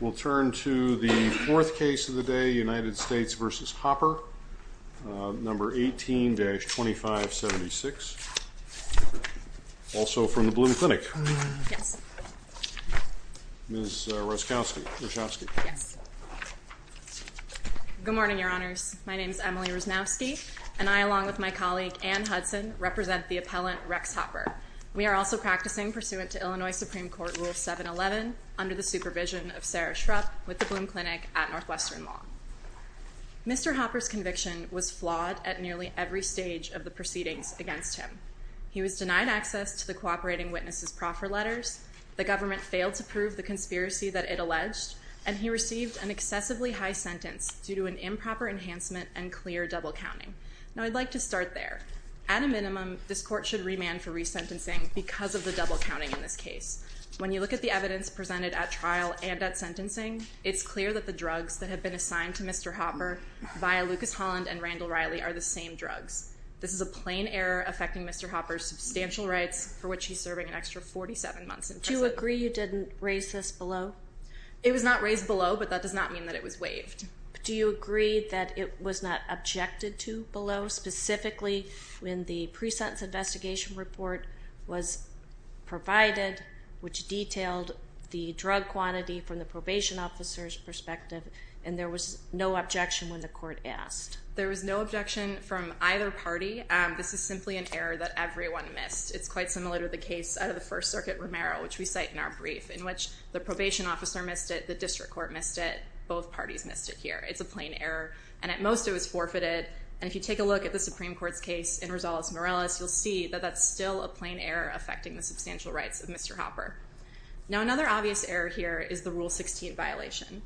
We'll turn to the fourth case of the day, United States v. Hopper, number 18-2576, also from the Blum Clinic, Ms. Roszkowski. Good morning, your honors. My name is Emily Roszkowski, and I, along with my colleague Anne Hudson, represent the appellant Rex Hopper. We are also practicing pursuant to Illinois Supreme Court Rule 711 under the supervision of Sarah Shrupp with the Blum Clinic at Northwestern Law. Mr. Hopper's conviction was flawed at nearly every stage of the proceedings against him. He was denied access to the cooperating witness's proffer letters, the government failed to prove the conspiracy that it alleged, and he received an excessively high sentence due to an improper enhancement and clear double counting. Now, I'd like to start there. At a minimum, this court should remand for resentencing because of the double counting in this case. When you look at the evidence presented at trial and at sentencing, it's clear that the drugs that have been assigned to Mr. Hopper via Lucas Holland and Randall Riley are the same drugs. This is a plain error affecting Mr. Hopper's substantial rights for which he's serving an extra 47 months in prison. Do you agree you didn't raise this below? It was not raised below, but that does not mean that it was waived. Do you agree that it was not objected to below, specifically when the pre-sentence investigation report was provided, which detailed the drug quantity from the probation officer's perspective, and there was no objection when the court asked? There was no objection from either party. This is simply an error that everyone missed. It's quite similar to the case out of the First Circuit Romero, which we cite in our brief, in which the probation officer missed it, the district court missed it, both parties missed it here. It's a plain error, and at most it was forfeited. And if you take a look at the Supreme Court's case in Rosales-Morales, you'll see that that's still a plain error affecting the substantial rights of Mr. Hopper. Now, another obvious error here is the Rule 16 violation.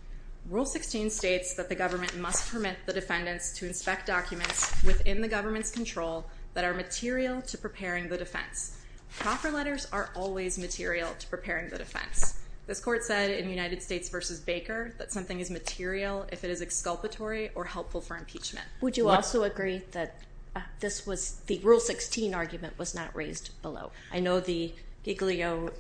Rule 16 states that the government must permit the defendants to inspect documents within the government's control that are material to preparing the defense. Proffer letters are always material to preparing the defense. This court said in United States v. Baker that something is material if it is exculpatory or helpful for impeachment. Would you also agree that the Rule 16 argument was not raised below? I know the Giglio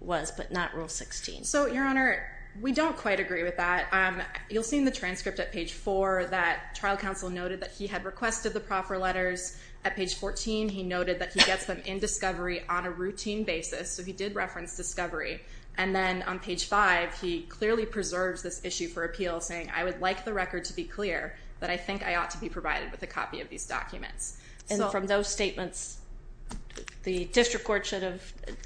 was, but not Rule 16. So, Your Honor, we don't quite agree with that. You'll see in the transcript at page 4 that trial counsel noted that he had requested the proffer letters. At page 14, he noted that he gets them in discovery on a routine basis, so he did reference discovery. And then on page 5, he clearly preserves this issue for appeal, saying, I would like the record to be clear, but I think I ought to be provided with a copy of these documents. And from those statements, the district court should have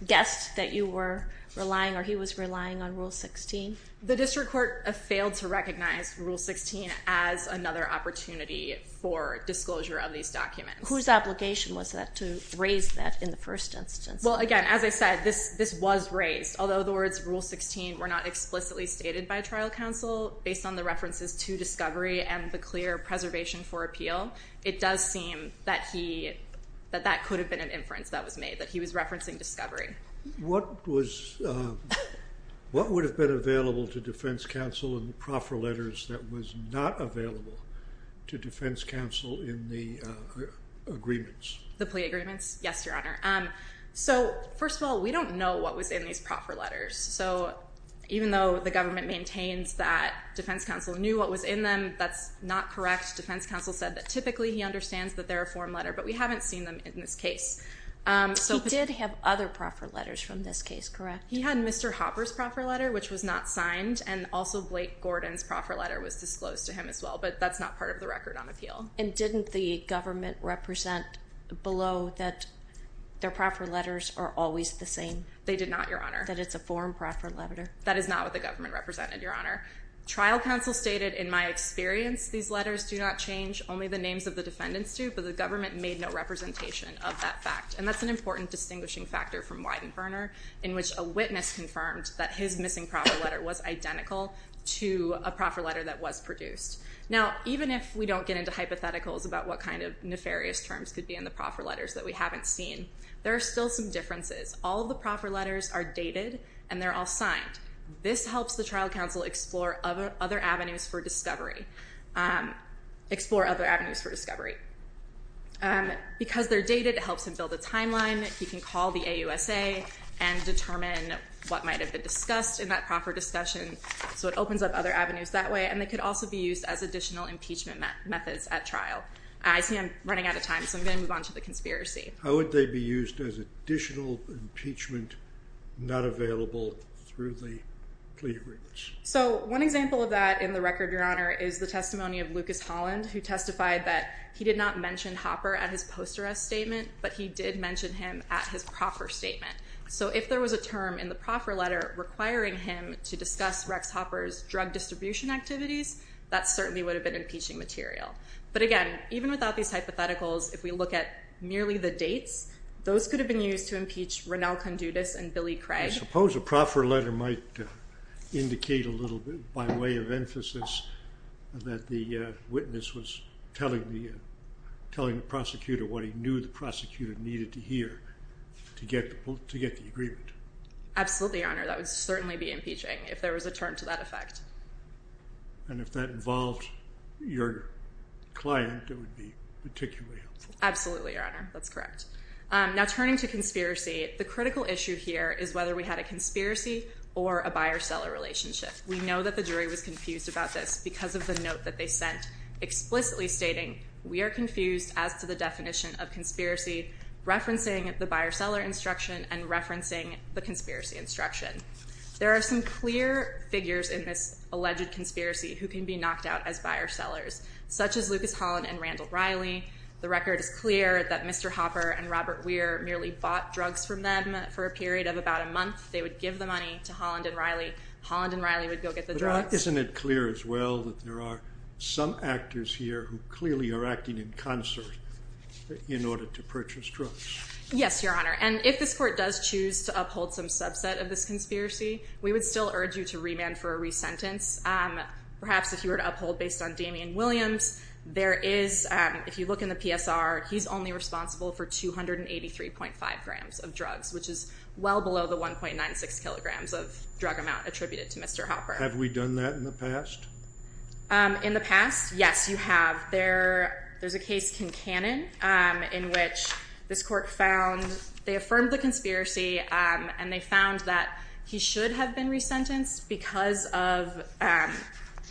guessed that you were relying or he was relying on Rule 16? The district court failed to recognize Rule 16 as another opportunity for disclosure of these documents. Whose obligation was that to raise that in the first instance? Well, again, as I said, this was raised. Although the words Rule 16 were not explicitly stated by trial counsel, based on the references to discovery and the clear preservation for appeal, it does seem that that could have been an inference that was made, that he was referencing discovery. What would have been available to defense counsel in the proffer letters that was not available to defense counsel in the agreements? The plea agreements? Yes, Your Honor. So first of all, we don't know what was in these proffer letters. So even though the government maintains that defense counsel knew what was in them, that's not correct. Defense counsel said that typically he understands that they're a form letter, but we haven't seen them in this case. He did have other proffer letters from this case, correct? He had Mr. Hopper's proffer letter, which was not signed, and also Blake Gordon's proffer letter was disclosed to him as well, but that's not part of the record on appeal. And didn't the government represent below that their proffer letters are always the same? They did not, Your Honor. That it's a form proffer letter? That is not what the government represented, Your Honor. Trial counsel stated, in my experience, these letters do not change, only the names of the defendants do, but the government made no representation of that fact, and that's an important distinguishing factor from Weidenferner, in which a witness confirmed that his missing proffer letter was identical to a proffer letter that was produced. Now, even if we don't get into hypotheticals about what kind of nefarious terms could be in the proffer letters that we haven't seen, there are still some differences. All of the proffer letters are dated, and they're all signed. This helps the trial counsel explore other avenues for discovery. Explore other avenues for discovery. Because they're dated, it helps him build a timeline. He can call the AUSA and determine what might have been discussed in that proffer discussion, so it opens up other avenues that way, and they could also be used as additional impeachment methods at trial. I see I'm running out of time, so I'm going to move on to the conspiracy. How would they be used as additional impeachment, not available through the plea agreements? So one example of that in the record, Your Honor, is the testimony of Lucas Holland, who testified that he did not mention Hopper at his post-arrest statement, but he did mention him at his proffer statement. So if there was a term in the proffer letter requiring him to discuss Rex Hopper's drug distribution activities, that certainly would have been impeaching material. But again, even without these hypotheticals, if we look at merely the dates, those could have been used to impeach Ranel Condutis and Billy Craig. I suppose a proffer letter might indicate a little bit, by way of emphasis, that the witness was telling the prosecutor what he knew the prosecutor needed to hear to get the agreement. Absolutely, Your Honor. That would certainly be impeaching if there was a term to that effect. And if that involved your client, it would be particularly helpful. Absolutely, Your Honor. That's correct. Now turning to conspiracy, the critical issue here is whether we had a conspiracy or a buyer-seller relationship. We know that the jury was confused about this because of the note that they sent explicitly stating, we are confused as to the definition of conspiracy, referencing the buyer-seller instruction and referencing the conspiracy instruction. There are some clear figures in this alleged conspiracy who can be knocked out as buyer-sellers, such as Lucas Holland and Randall Riley. The record is clear that Mr. Hopper and Robert Weir merely bought drugs from them for a period of about a month. They would give the money to Holland and Riley. Holland and Riley would go get the drugs. But isn't it clear as well that there are some actors here who clearly are acting in concert in order to purchase drugs? Yes, Your Honor. And if this court does choose to uphold some subset of this conspiracy, we would still urge you to remand for a resentence. Perhaps if you were to uphold based on Damien Williams, there is, if you look in the PSR, he's only responsible for 283.5 grams of drugs, which is well below the 1.96 kilograms of drug amount attributed to Mr. Hopper. In the past, yes, you have. There's a case, Kin Cannon, in which this court found, they affirmed the conspiracy, and they found that he should have been resentenced because of,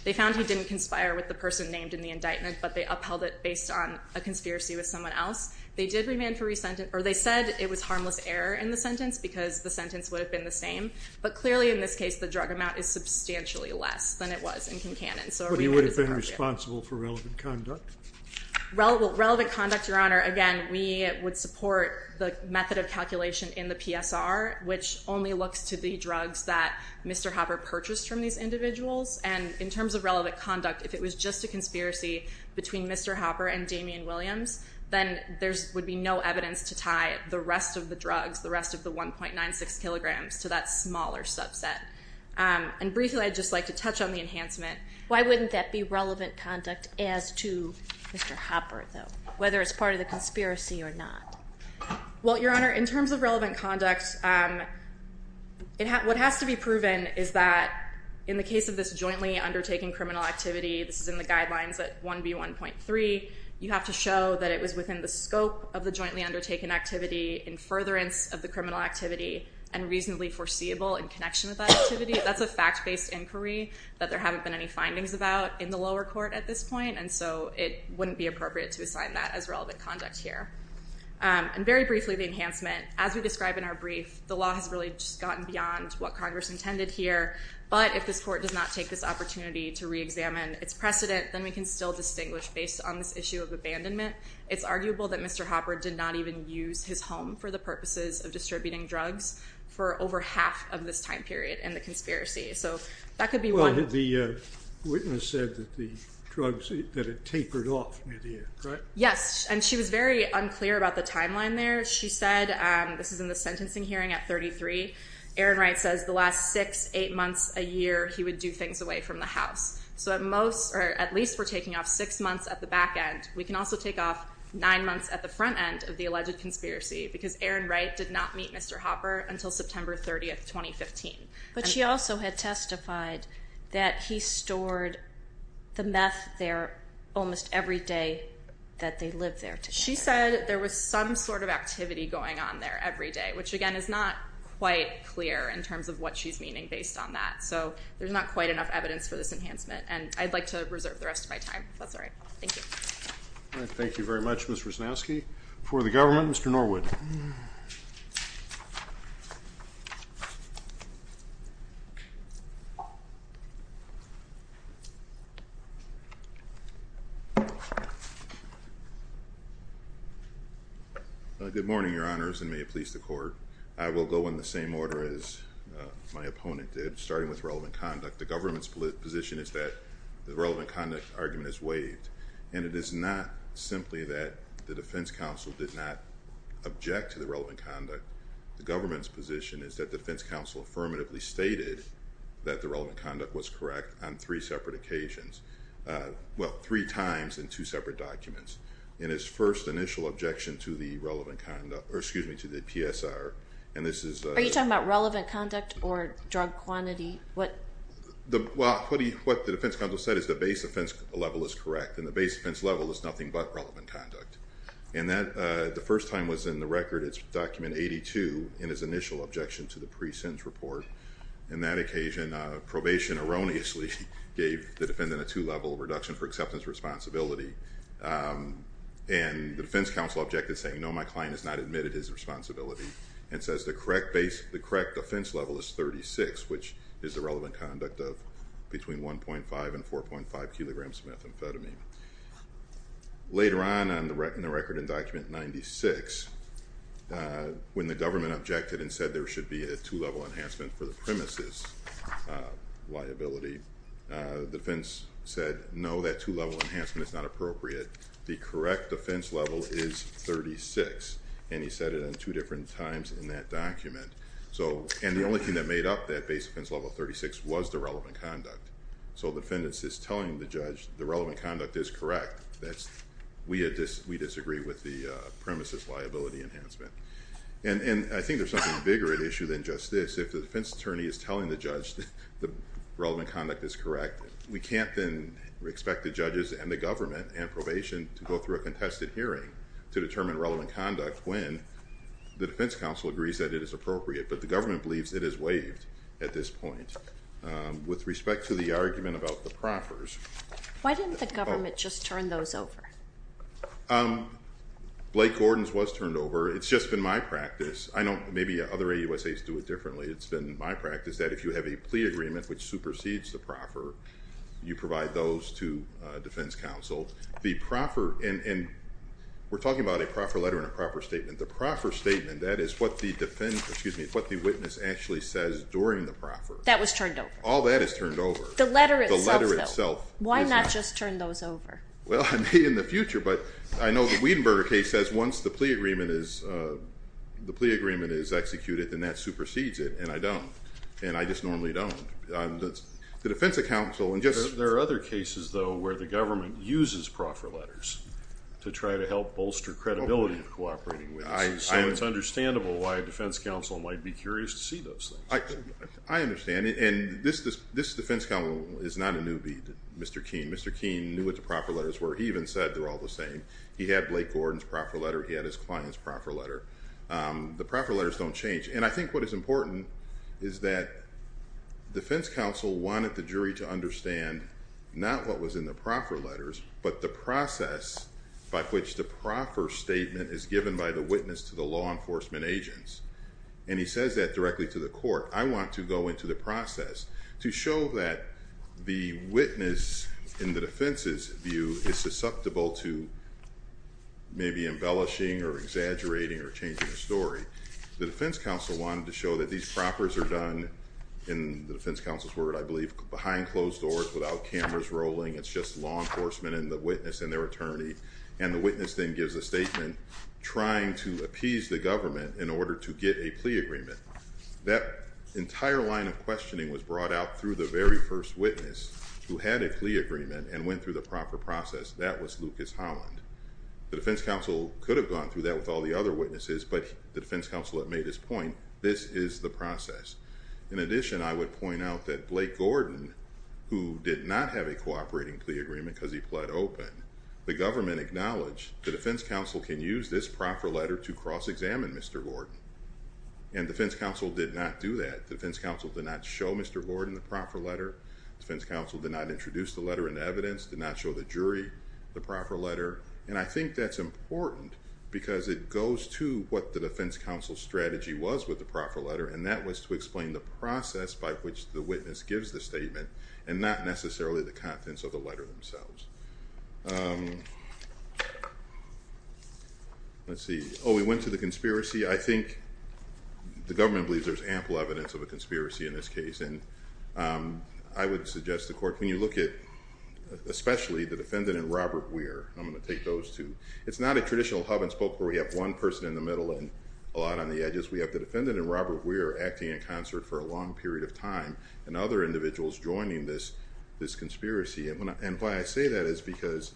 they found he didn't conspire with the person named in the indictment, but they upheld it based on a conspiracy with someone else. They did remand for resentence, or they said it was harmless error in the sentence because the sentence would have been the same. But clearly in this case, the drug amount is substantially less than it was in Kin Cannon. But he would have been responsible for relevant conduct? Well, relevant conduct, Your Honor, again, we would support the method of calculation in the PSR, which only looks to the drugs that Mr. Hopper purchased from these individuals. And in terms of relevant conduct, if it was just a conspiracy between Mr. Hopper and Damien Williams, then there would be no evidence to tie the rest of the drugs, the rest of the 1.96 kilograms, to that smaller subset. And briefly, I'd just like to touch on the enhancement. Why wouldn't that be relevant conduct as to Mr. Hopper, though, whether it's part of the conspiracy or not? Well, Your Honor, in terms of relevant conduct, what has to be proven is that in the case of this jointly undertaking criminal activity, this is in the guidelines at 1B1.3, you have to show that it was within the scope of the jointly undertaken activity, in furtherance of the criminal activity, and reasonably foreseeable in connection with that activity. That's a fact-based inquiry that there haven't been any findings about in the lower court at this point. And so it wouldn't be appropriate to assign that as relevant conduct here. And very briefly, the enhancement. As we describe in our brief, the law has really just gotten beyond what Congress intended here. But if this court does not take this opportunity to re-examine its precedent, then we can still distinguish, based on this issue of abandonment, it's arguable that Mr. Hopper did not even use his home for the purposes of distributing drugs for over half of this time period in the conspiracy. So that could be one. Well, the witness said that the drugs, that it tapered off mid-air, right? Yes, and she was very unclear about the timeline there. She said, this is in the sentencing hearing at 33, Aaron Wright says the last 6, 8 months, a year, he would do things away from the house. So at least we're taking off 6 months at the back end. We can also take off 9 months at the front end of the alleged conspiracy because Aaron Wright did not meet Mr. Hopper until September 30, 2015. But she also had testified that he stored the meth there almost every day that they lived there together. She said there was some sort of activity going on there every day, which again is not quite clear in terms of what she's meaning based on that. So there's not quite enough evidence for this enhancement, and I'd like to reserve the rest of my time if that's all right. Thank you. All right. Thank you very much, Ms. Rusnowski. For the government, Mr. Norwood. Good morning, Your Honors, and may it please the court. I will go in the same order as my opponent did, starting with relevant conduct. The government's position is that the relevant conduct argument is waived, and it is not simply that the defense counsel did not object to the relevant conduct. The government's position is that the defense counsel affirmatively stated that the relevant conduct was correct on three separate occasions, well, three times in two separate documents, in his first initial objection to the relevant conduct, or excuse me, to the PSR. Are you talking about relevant conduct or drug quantity? Well, what the defense counsel said is the base offense level is correct, and the base offense level is nothing but relevant conduct. And the first time was in the record, it's document 82, in his initial objection to the pre-sentence report. In that occasion, probation erroneously gave the defendant a two-level reduction for acceptance responsibility, and the defense counsel objected, saying, no, my client has not admitted his responsibility, and says the correct defense level is 36, which is the relevant conduct of between 1.5 and 4.5 kilograms of methamphetamine. Later on in the record in document 96, when the government objected and said there should be a two-level enhancement for the premise's liability, the defense said, no, that two-level enhancement is not appropriate. The correct defense level is 36, and he said it in two different times in that document. And the only thing that made up that base offense level 36 was the relevant conduct. So the defendant is telling the judge the relevant conduct is correct. We disagree with the premise's liability enhancement. And I think there's something bigger at issue than just this. If the defense attorney is telling the judge the relevant conduct is correct, we can't then expect the judges and the government and probation to go through a contested hearing to determine relevant conduct when the defense counsel agrees that it is appropriate. But the government believes it is waived at this point. With respect to the argument about the proffers. Why didn't the government just turn those over? Blake Gordon's was turned over. It's just been my practice. I know maybe other AUSAs do it differently. It's been my practice that if you have a plea agreement which supersedes the proffer, you provide those to defense counsel. And we're talking about a proffer letter and a proffer statement. The proffer statement, that is what the witness actually says during the proffer. That was turned over. All that is turned over. The letter itself, though. The letter itself. Why not just turn those over? Well, I may in the future. But I know the Wiedenberger case says once the plea agreement is executed, then that supersedes it. And I don't. And I just normally don't. The defense counsel. There are other cases, though, where the government uses proffer letters to try to help bolster credibility of cooperating with this. So it's understandable why defense counsel might be curious to see those things. I understand. And this defense counsel is not a newbie, Mr. Keene. Mr. Keene knew what the proffer letters were. He even said they're all the same. He had Blake Gordon's proffer letter. He had his client's proffer letter. The proffer letters don't change. And I think what is important is that defense counsel wanted the jury to understand not what was in the proffer letters, but the process by which the proffer statement is given by the witness to the law enforcement agents. And he says that directly to the court. I want to go into the process to show that the witness, in the defense's view, is susceptible to maybe embellishing or exaggerating or changing the story. The defense counsel wanted to show that these proffers are done, in the defense counsel's word, I believe, behind closed doors without cameras rolling. It's just law enforcement and the witness and their attorney. And the witness then gives a statement trying to appease the government in order to get a plea agreement. That entire line of questioning was brought out through the very first witness who had a plea agreement and went through the proffer process. That was Lucas Holland. The defense counsel could have gone through that with all the other witnesses, but the defense counsel had made his point. This is the process. In addition, I would point out that Blake Gordon, who did not have a cooperating plea agreement because he pled open, the government acknowledged the defense counsel can use this proffer letter to cross-examine Mr. Gordon. And the defense counsel did not do that. The defense counsel did not show Mr. Gordon the proffer letter. The defense counsel did not introduce the letter into evidence, did not show the jury the proffer letter. And I think that's important because it goes to what the defense counsel's strategy was with the proffer letter, and that was to explain the process by which the witness gives the statement and not necessarily the contents of the letter themselves. Let's see. Oh, we went to the conspiracy. I think the government believes there's ample evidence of a conspiracy in this case. And I would suggest to the court, can you look at especially the defendant and Robert Weir? I'm going to take those two. It's not a traditional hub-and-spoke where we have one person in the middle and a lot on the edges. We have the defendant and Robert Weir acting in concert for a long period of time and other individuals joining this conspiracy. And why I say that is because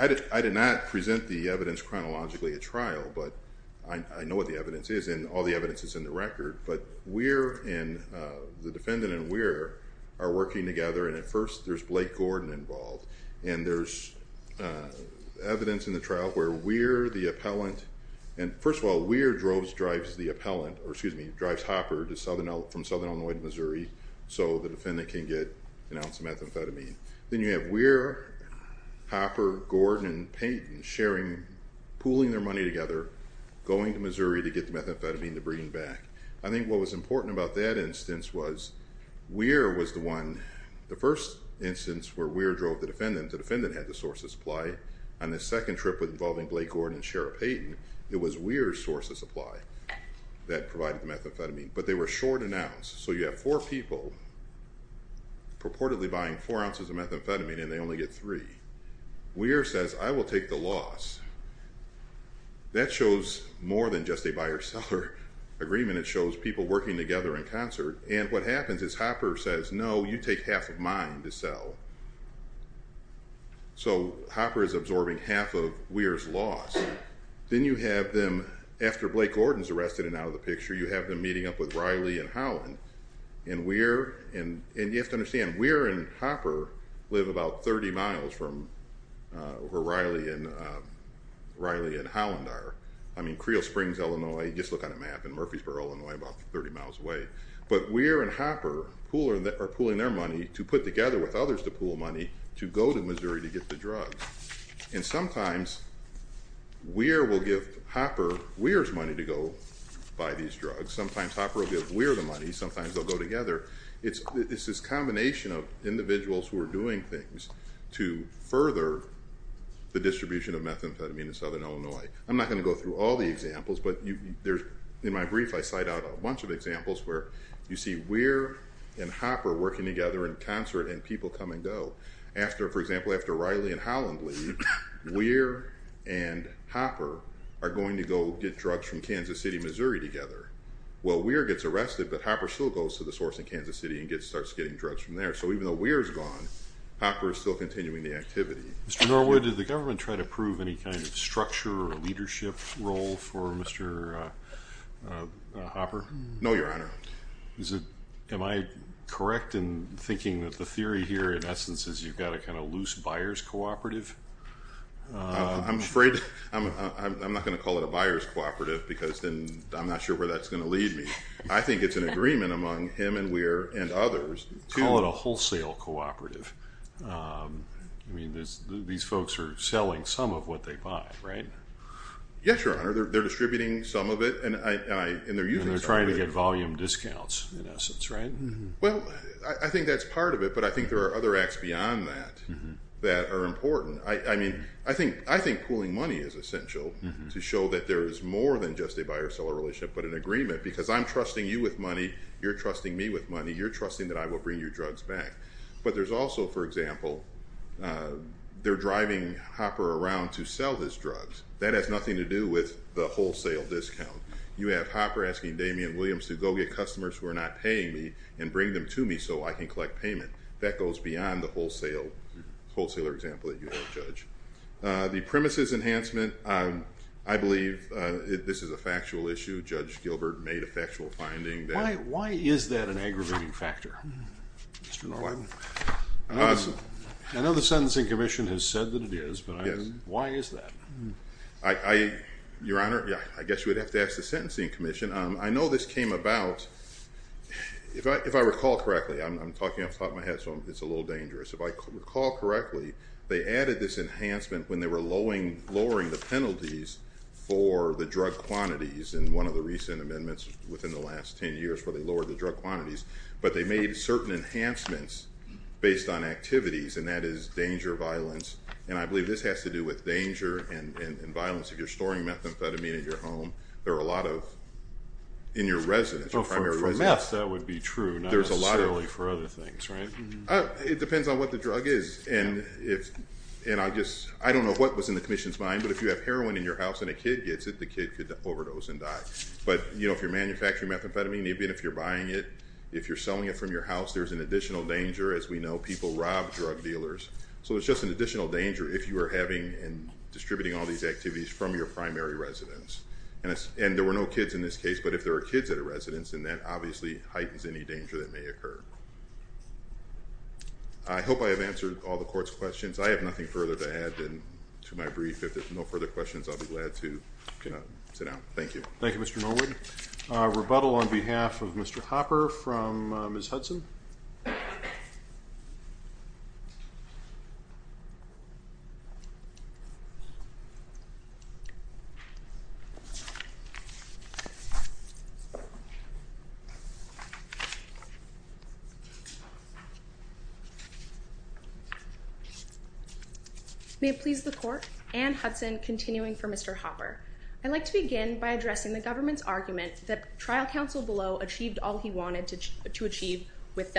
I did not present the evidence chronologically at trial, but I know what the evidence is and all the evidence is in the record. But Weir and the defendant and Weir are working together, and at first there's Blake Gordon involved. And there's evidence in the trial where Weir, the appellant, and first of all, Then you have Weir, Hopper, Gordon, and Payton sharing, pooling their money together, going to Missouri to get the methamphetamine to bring it back. I think what was important about that instance was Weir was the one. The first instance where Weir drove the defendant, the defendant had the source of supply. On the second trip involving Blake Gordon and Sheriff Payton, it was Weir's source of supply that provided the methamphetamine. But they were short an ounce. So you have four people purportedly buying four ounces of methamphetamine and they only get three. Weir says, I will take the loss. That shows more than just a buyer-seller agreement. It shows people working together in concert. And what happens is Hopper says, no, you take half of mine to sell. So Hopper is absorbing half of Weir's loss. Then you have them, after Blake Gordon is arrested and out of the picture, you have them meeting up with Riley and Howland. And Weir, and you have to understand, Weir and Hopper live about 30 miles from where Riley and Howland are. I mean, Creel Springs, Illinois, just look on a map, and Murfreesboro, Illinois, about 30 miles away. But Weir and Hopper are pooling their money to put together with others to pool money to go to Missouri to get the drugs. And sometimes Weir will give Hopper Weir's money to go buy these drugs. Sometimes Hopper will give Weir the money. Sometimes they'll go together. It's this combination of individuals who are doing things to further the distribution of methamphetamine in southern Illinois. I'm not going to go through all the examples, but in my brief I cite out a bunch of examples where you see Weir and Hopper working together in concert and people come and go. After, for example, after Riley and Howland leave, Weir and Hopper are going to go get drugs from Kansas City, Missouri together. Well, Weir gets arrested, but Hopper still goes to the source in Kansas City and starts getting drugs from there. So even though Weir is gone, Hopper is still continuing the activity. Mr. Norwood, did the government try to prove any kind of structure or leadership role for Mr. Hopper? No, Your Honor. Am I correct in thinking that the theory here, in essence, is you've got a kind of loose buyer's cooperative? I'm afraid I'm not going to call it a buyer's cooperative because then I'm not sure where that's going to lead me. I think it's an agreement among him and Weir and others. Call it a wholesale cooperative. I mean, these folks are selling some of what they buy, right? Yes, Your Honor. And they're trying to get volume discounts, in essence, right? Well, I think that's part of it, but I think there are other acts beyond that that are important. I mean, I think pooling money is essential to show that there is more than just a buyer-seller relationship but an agreement because I'm trusting you with money, you're trusting me with money, you're trusting that I will bring your drugs back. But there's also, for example, they're driving Hopper around to sell his drugs. That has nothing to do with the wholesale discount. You have Hopper asking Damien Williams to go get customers who are not paying me and bring them to me so I can collect payment. That goes beyond the wholesaler example that you have, Judge. The premises enhancement, I believe this is a factual issue. Judge Gilbert made a factual finding. Why is that an aggravating factor, Mr. Norland? I know the Sentencing Commission has said that it is, but why is that? Your Honor, I guess you would have to ask the Sentencing Commission. I know this came about, if I recall correctly, I'm talking off the top of my head so it's a little dangerous. If I recall correctly, they added this enhancement when they were lowering the penalties for the drug quantities in one of the recent amendments within the last ten years where they lowered the drug quantities. But they made certain enhancements based on activities, and that is danger violence. And I believe this has to do with danger and violence. If you're storing methamphetamine in your home, there are a lot of, in your residence, your primary residence. For meth, that would be true, not necessarily for other things, right? It depends on what the drug is. I don't know what was in the Commission's mind, but if you have heroin in your house and a kid gets it, the kid could overdose and die. But if you're manufacturing methamphetamine, even if you're buying it, if you're selling it from your house, there's an additional danger, as we know. People rob drug dealers. So it's just an additional danger if you are having and distributing all these activities from your primary residence. And there were no kids in this case, but if there are kids at a residence, then that obviously heightens any danger that may occur. I hope I have answered all the Court's questions. I have nothing further to add to my brief. If there's no further questions, I'll be glad to sit down. Thank you. Thank you, Mr. Norwood. Rebuttal on behalf of Mr. Hopper from Ms. Hudson. May it please the Court, Anne Hudson continuing for Mr. Hopper. I'd like to begin by addressing the government's argument that trial counsel below achieved all he wanted to achieve with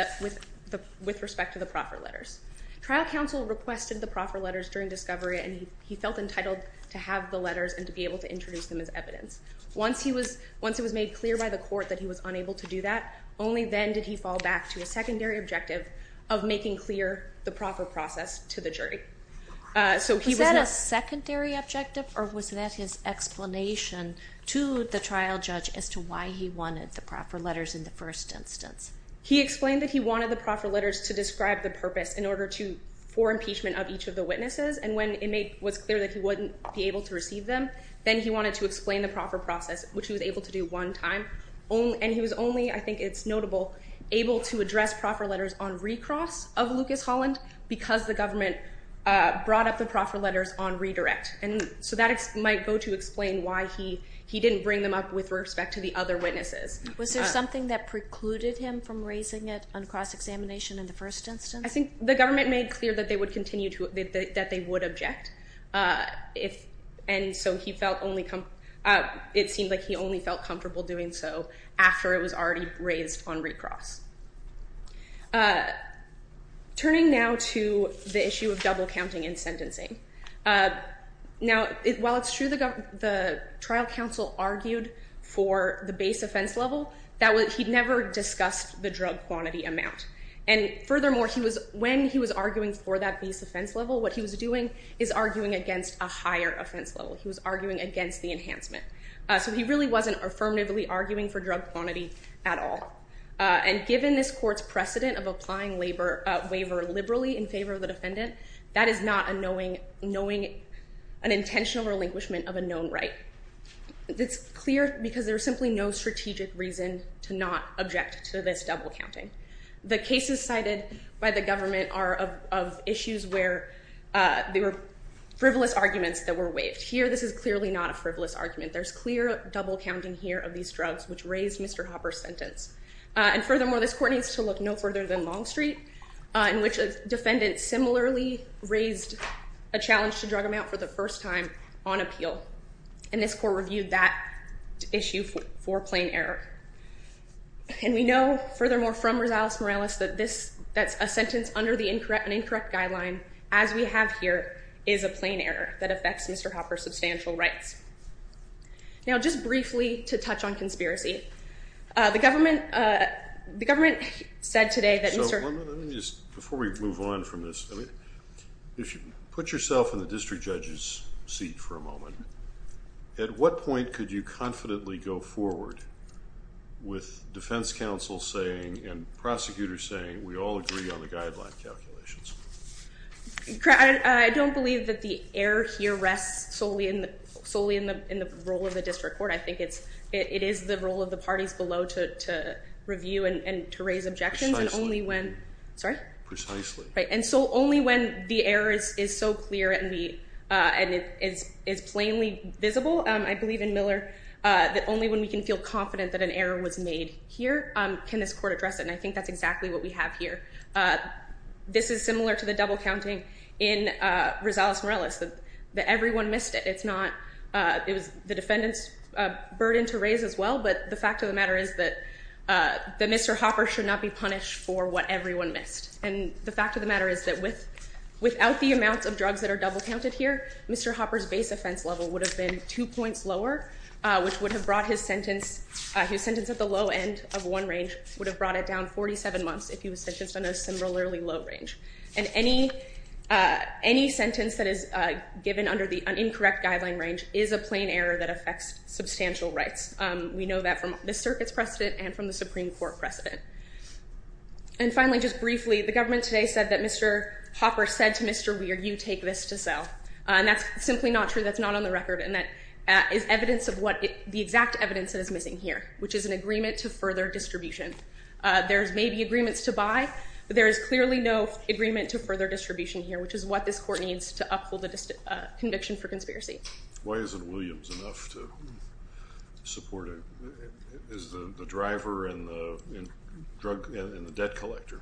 respect to the proffer letters. Trial counsel requested the proffer letters during discovery, and he felt entitled to have the letters and to be able to introduce them as evidence. Once it was made clear by the Court that he was unable to do that, only then did he fall back to a secondary objective of making clear the proffer process to the jury. Was that a secondary objective, or was that his explanation to the trial judge as to why he wanted the proffer letters in the first instance? He explained that he wanted the proffer letters to describe the purpose for impeachment of each of the witnesses. And when it was clear that he wouldn't be able to receive them, then he wanted to explain the proffer process, which he was able to do one time. And he was only, I think it's notable, able to address proffer letters on recross of Lucas Holland because the government brought up the proffer letters on redirect. And so that might go to explain why he didn't bring them up with respect to the other witnesses. Was there something that precluded him from raising it on cross-examination in the first instance? I think the government made clear that they would continue to, that they would object. And so he felt only, it seemed like he only felt comfortable doing so after it was already raised on recross. Turning now to the issue of double counting and sentencing. Now, while it's true the trial counsel argued for the base offense level, he never discussed the drug quantity amount. And furthermore, when he was arguing for that base offense level, what he was doing is arguing against a higher offense level. He was arguing against the enhancement. So he really wasn't affirmatively arguing for drug quantity at all. And given this court's precedent of applying waiver liberally in favor of the defendant, that is not a knowing, an intentional relinquishment of a known right. It's clear because there's simply no strategic reason to not object to this double counting. The cases cited by the government are of issues where there were frivolous arguments that were waived. Here, this is clearly not a frivolous argument. There's clear double counting here of these drugs, which raised Mr. Hopper's sentence. And furthermore, this court needs to look no further than Longstreet, in which a defendant similarly raised a challenge to drug amount for the first time on appeal. And this court reviewed that issue for plain error. And we know, furthermore, from Rosales Morales, that a sentence under an incorrect guideline, as we have here, is a plain error that affects Mr. Hopper's substantial rights. Now, just briefly to touch on conspiracy, the government said today that Mr. Before we move on from this, put yourself in the district judge's seat for a moment. At what point could you confidently go forward with defense counsel saying and prosecutors saying, we all agree on the guideline calculations? I don't believe that the error here rests solely in the role of the district court. I think it is the role of the parties below to review and to raise objections. Precisely. Sorry? Precisely. Right. And so only when the error is so clear and is plainly visible, I believe in Miller, that only when we can feel confident that an error was made here can this court address it. And I think that's exactly what we have here. This is similar to the double counting in Rosales Morales, that everyone missed it. It was the defendant's burden to raise as well, but the fact of the matter is that Mr. Hopper should not be punished for what everyone missed. And the fact of the matter is that without the amounts of drugs that are double counted here, Mr. Hopper's base offense level would have been two points lower, which would have brought his sentence at the low end of one range, would have brought it down 47 months if he was sentenced on a similarly low range. And any sentence that is given under the incorrect guideline range is a plain error that affects substantial rights. We know that from the circuit's precedent and from the Supreme Court precedent. And finally, just briefly, the government today said that Mr. Hopper said to Mr. Weir, you take this to sell. And that's simply not true. That's not on the record. And that is evidence of what the exact evidence that is missing here, which is an agreement to further distribution. There may be agreements to buy, but there is clearly no agreement to further distribution here, which is what this court needs to uphold a conviction for conspiracy. Why isn't Williams enough to support it as the driver and the debt collector?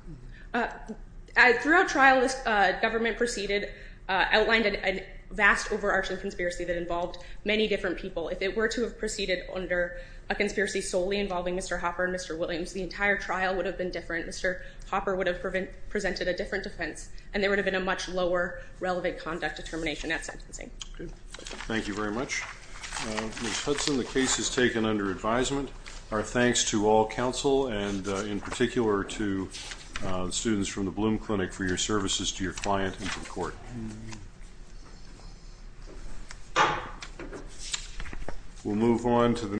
Throughout trial, the government proceeded, outlined a vast overarching conspiracy that involved many different people. If it were to have proceeded under a conspiracy solely involving Mr. Hopper and Mr. Williams, the entire trial would have been different. Mr. Hopper would have presented a different defense, and there would have been a much lower relevant conduct determination at sentencing. Thank you very much. Ms. Hudson, the case is taken under advisement. Our thanks to all counsel and in particular to the students from the Bloom Clinic for your services to your client and to the court. We'll move on to the next.